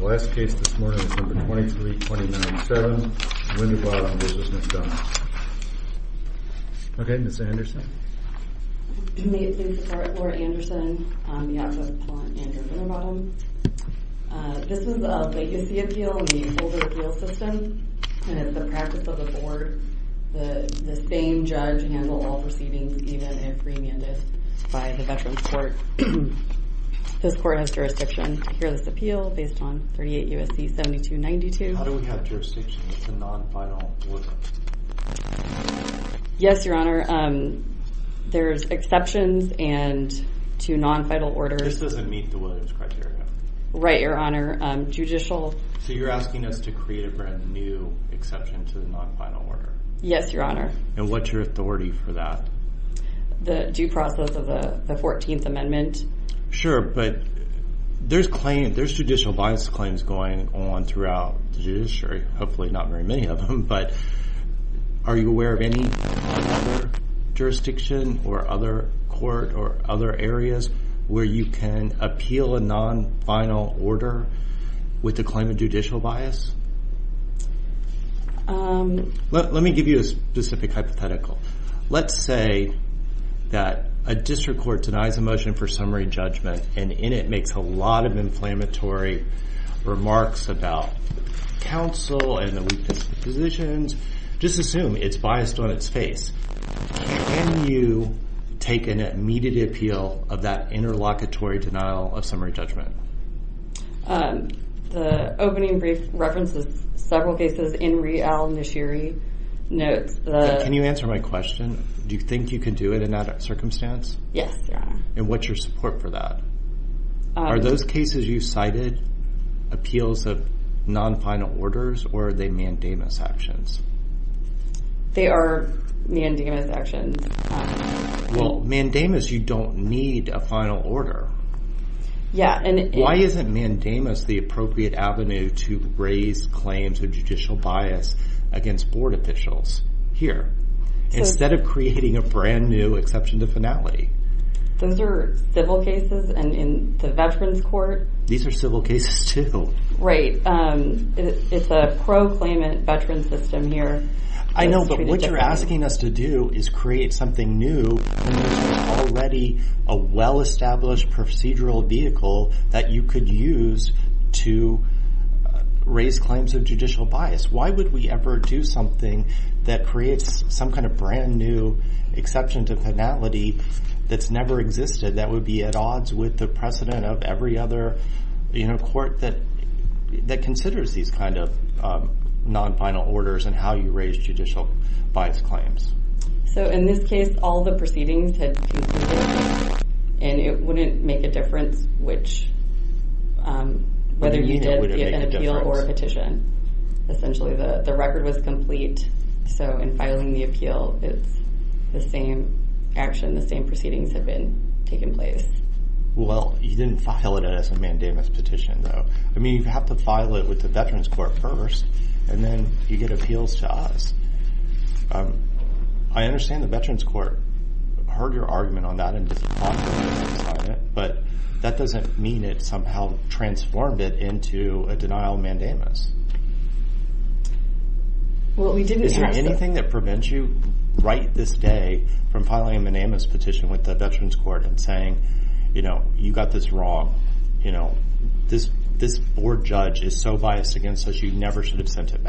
best case this morning, 2327 Fань Aggarwala the the fame judge handle even if remanded by the Ve 38 U. S. C. 7292. How do w to non final? Yes, your h meet the Williams criteria honor. Judicial. So you're your honor. And what's you that the due process of t sure. But there's claim t bias claims going on thro hopefully not very many o or other areas where you order with the claim of j Let's say that a district and in it makes a lot of biased on its face. Can y appeal of that interlocat judgment? Um, the openin my question? Do you think circumstance? Yes. And wh for that? Are those cases are mandamus actions? Wel a final order. Yeah. And bias against board offic of creating a brand new b finality. Those are civil court. These are civil ca Um, it's a pro claimant v I know, but what you're a create something new. Alr procedural vehicle that y do something that creates that's never existed. Tha these kind of non final o all the proceedings had c wouldn't make a differenc you did an appeal or a pe the record was complete. proceedings have been tak didn't file it as a manda I mean, you have to file court first and then you on that and just fine. Bu somehow transformed it in mandamus. Well, we didn't prevent you right this da petition with the Veteran know, you got this wrong. this board judge is so bi never should have sent it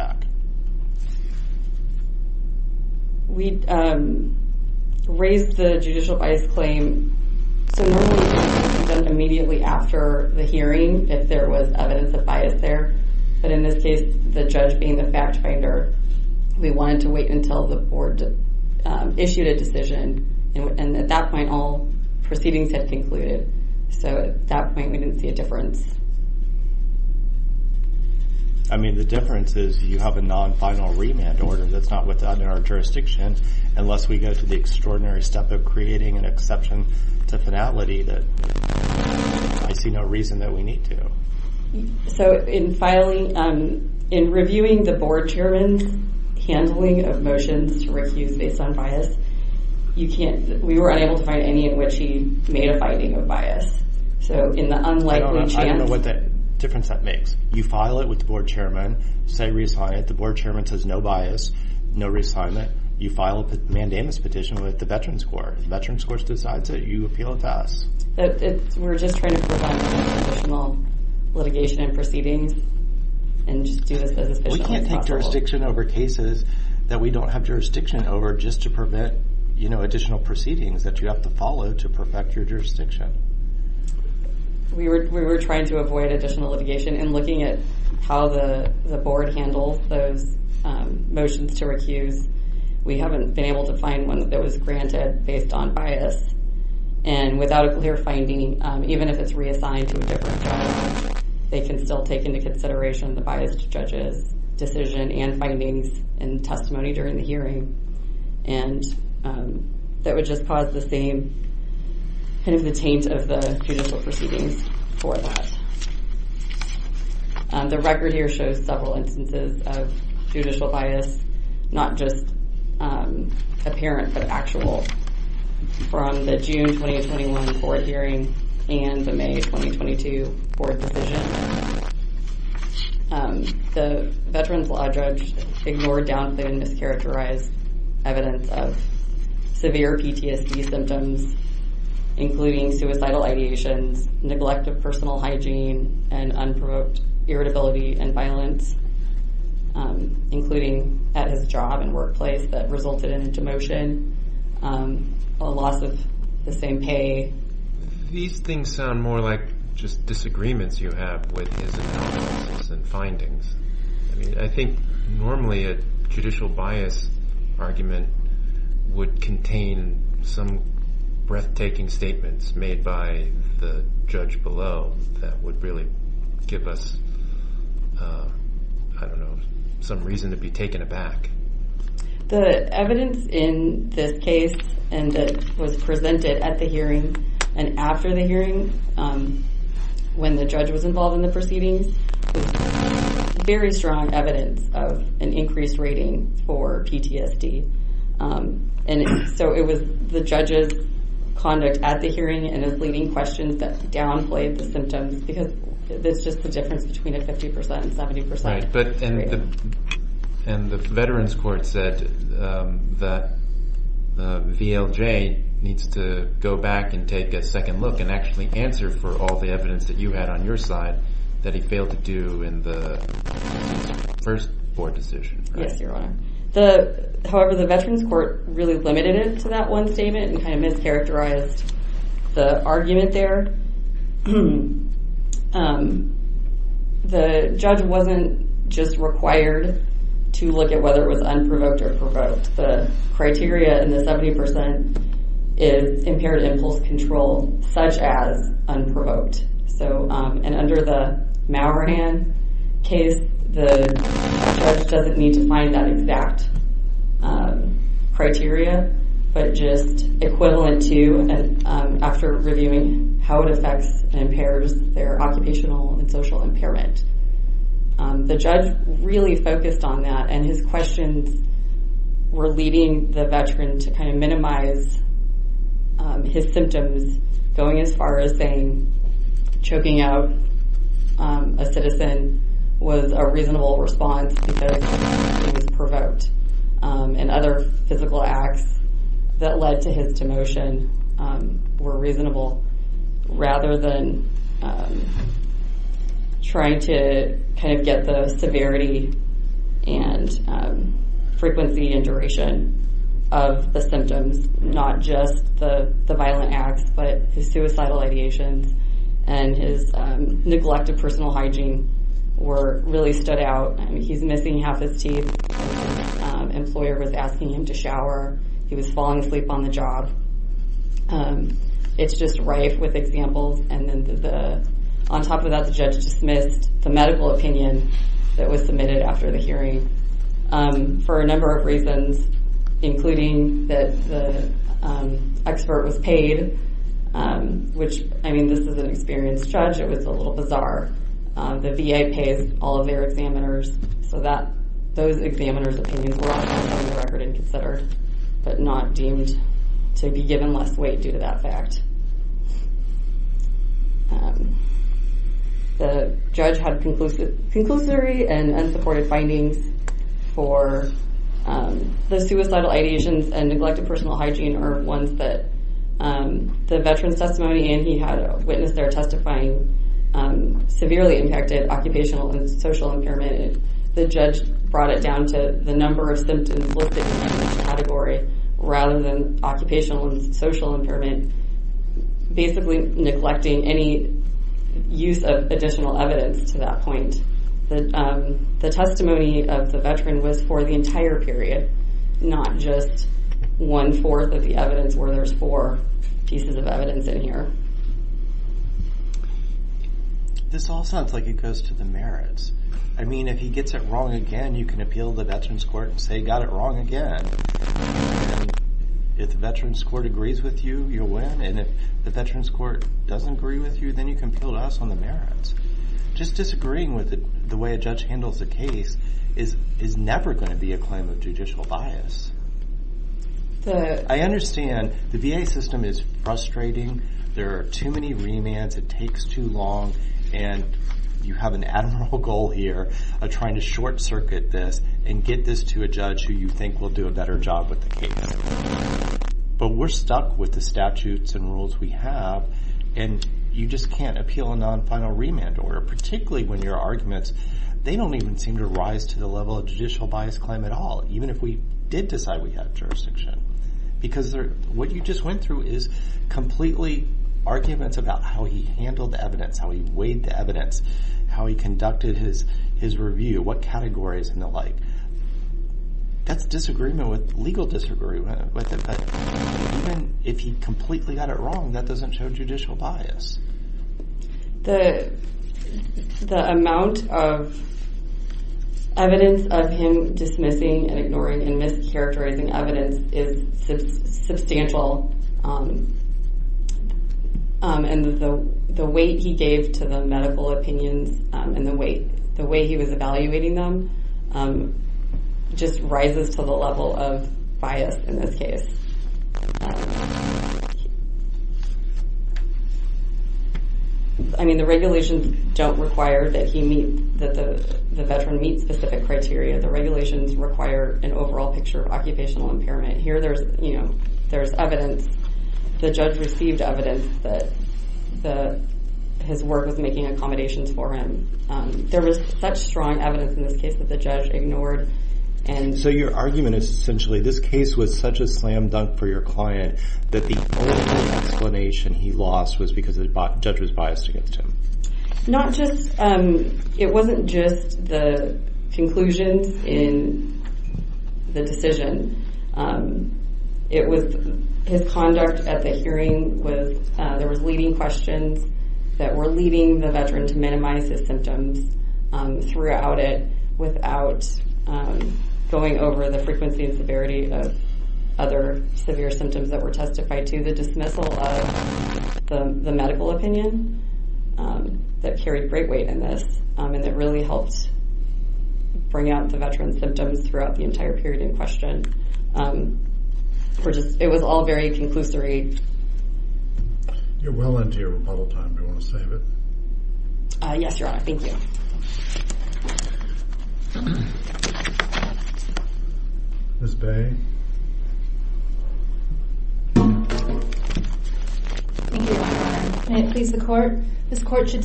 immediately after the hea of bias there. But in thi the fact finder, we wante all proceedings had conclu we didn't see a differenc that's not what's out in unless we go to the extra an exception to finality So in filing, um, in revi handling of motions to re You can't, we were unable he made a finding of bias chance. I don't know what that makes. You file it w say, resign at the board bias, no reassignment. Yo petition with the Veteran scores decides that you a we're just trying to prov and proceedings and just can't take jurisdiction o don't have jurisdiction o you know, additional proc to follow to perfect your we were trying to avoid a and looking at how the bo to recuse. We haven't bee that was granted based on even if it's reassigned t still take into considera decision and findings and hearing. And, um, that wo same kind of the taint of instances of judicial bia um, apparent but actual f forward hearing and the M and mischaracterized evid suicidal ideations, neglec and unprovoked irritability that resulted in a demoti same pay. These things so you have with his and find some breathtaking statemen below that would really g The evidence in this case at the hearing and after very strong evidence of a for PTSD. Um, and so it w at the hearing and is lea downplayed the symptoms b difference between a 50% and the veterans court sa to go back and take a sec answer for all the eviden side that he failed to do limited it to that one st mischaracterized the argu the judge wasn't just req whether it was unprovoked and the 70% is impaired i doesn't need to find that criteria, but just equiva how it affects and impair and social impairment. Um veteran to kind of minimi a reasonable response bec physical acts that led to reasonable rather than tr the symptoms, not just th personal hygiene were rea missing half his teeth. U him to shower. He was fal job. Um, it's just rife w opinion that was submitted was paid. Um, which I mea judge. It was a little ba all of their examiners. S but not deemed to be given that fact. Um, the judge and neglected personal hy um, the veterans testimony there testifying, um, sev it down to the number of category rather than occu impairment, basically neg of additional evidence to testimony of the veteran period, not just 1 4th of all sounds like it goes t mean, if he gets it wrong the veterans court and sa if the veterans court agr you can kill us on the me with the way a judge hand never going to be a claim There are too many remand and you have an admirable to short circuit this and case. But we're stuck wit remand order, particularly a judicial bias claim at decide we have jurisdicti you just went through is about how he handled the what categories and the l with it. But even if he c that doesn't show judicia and ignoring and mischarac is substantial. Um, and t weight, the way he was ev them, um, just rises to t in this case. Uh huh. I m don't require that he mea an overall picture of occ Here there's, you know, t judge received evidence t was making accommodations case that the judge ignor is essentially this case for your client that the against him. Not just, um at the hearing with, uh, questions that were leadi without, um, going over t to the dismissal of the m carried great weight in t helped bring out the vete the entire period in quest was all very conclusory. Mhm. This Bay. Thank you. court. This court should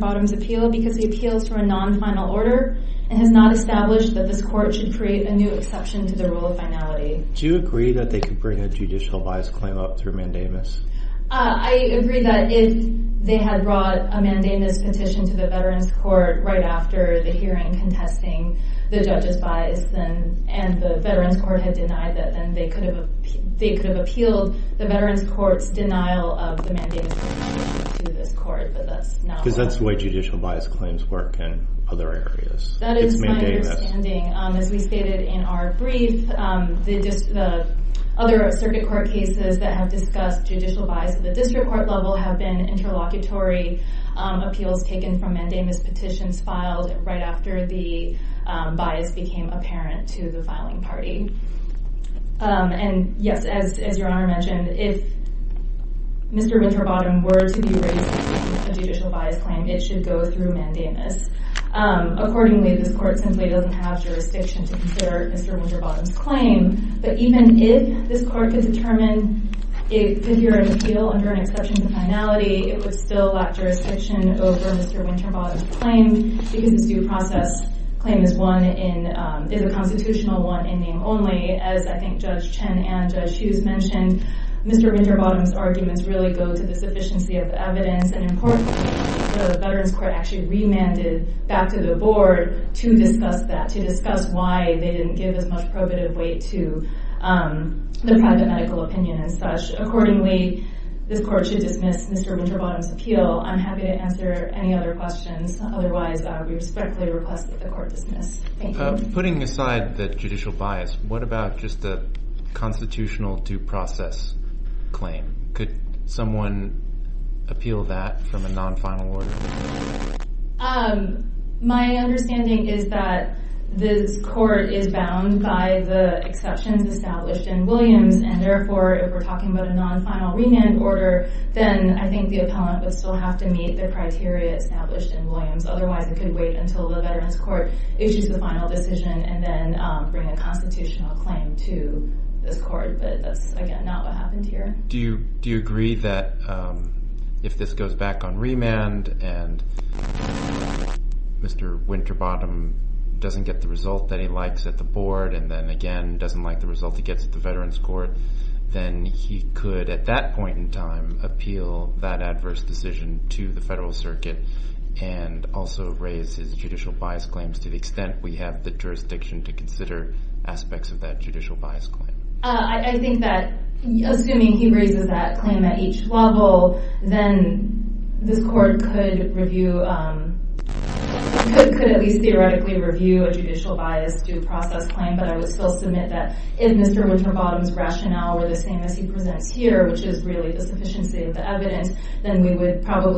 bottoms appeal because he final order and has not e this court should create the rule of finality. Do could bring a judicial vi mandamus? I agree that if a mandamus petition to th right after the hearing c bias and the veterans cou then they could have, the the veterans courts denia bias claims work in other understanding. Um, as we um, they just, the other that have discussed judic court level have been int petitions filed right afte yes, as, as your honor me bottom were to be a judic it should go through mand this court simply doesn't to consider Mr. Winterbot if this court could deter appeal under an exception it would still lack juris Winterbottom's claim beca claim is one in, is a con name only. As I think Jud mentioned, Mr. Winterbott go to the sufficiency of important. The veterans c back to the board to disc why they didn't give as m to, um, the private medica accordingly, this court s Winterbottom's appeal. I' other questions. Otherwise request that the court di aside that judicial bias, constitutional due process appeal that from a non fin is that this court is bou established in Williams a we're talking about a non then I think the appellant to meet the criteria esta Otherwise it could wait u court issues the final de a constitutional claim to that's again, not what ha do you agree that if this and Mr Winterbottom doesn that he likes at the boar doesn't like the result t veterans court, then he c time appeal that adverse circuit and also raise hi claims to the extent we h to consider aspects of th claim. I think that assum claim at each level, then review, um, could at leas a judicial bias due proce that if Mr Winterbottom's same as he presents here, sufficiency of the evidenc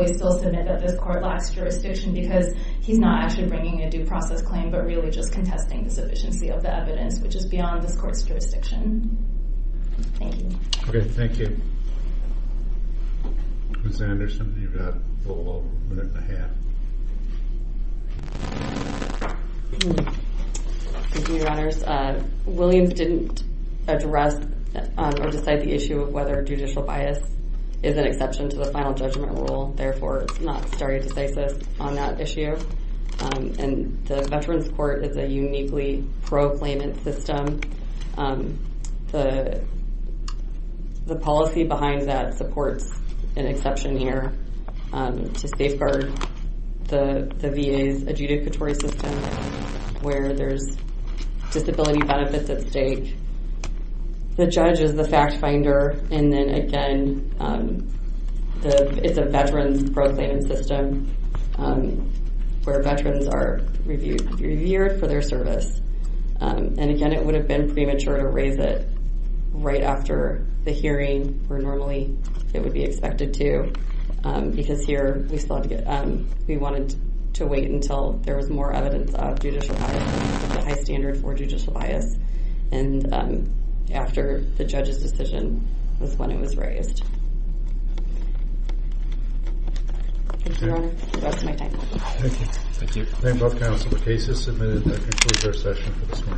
still submit that this cou because he's not actually claim, but really just co of the evidence, which is jurisdiction. Thank you. a half. Thank you, honore address or decide the iss bias is an exception to t rule. Therefore, it's not issue. Um, and the veteran proclaimant system. Um, t that supports an exceptio the V. A. S. Adjudicatori disability benefits at sta fact finder. And then aga proclaiming system, um, w are reviewed, reviewed fo again, it would have been it right after the hearin it would be expected to b to get. We wanted to wait evidence of judicial, a h judicial bias. And um, af was when it was raised. T That's my time. Thank you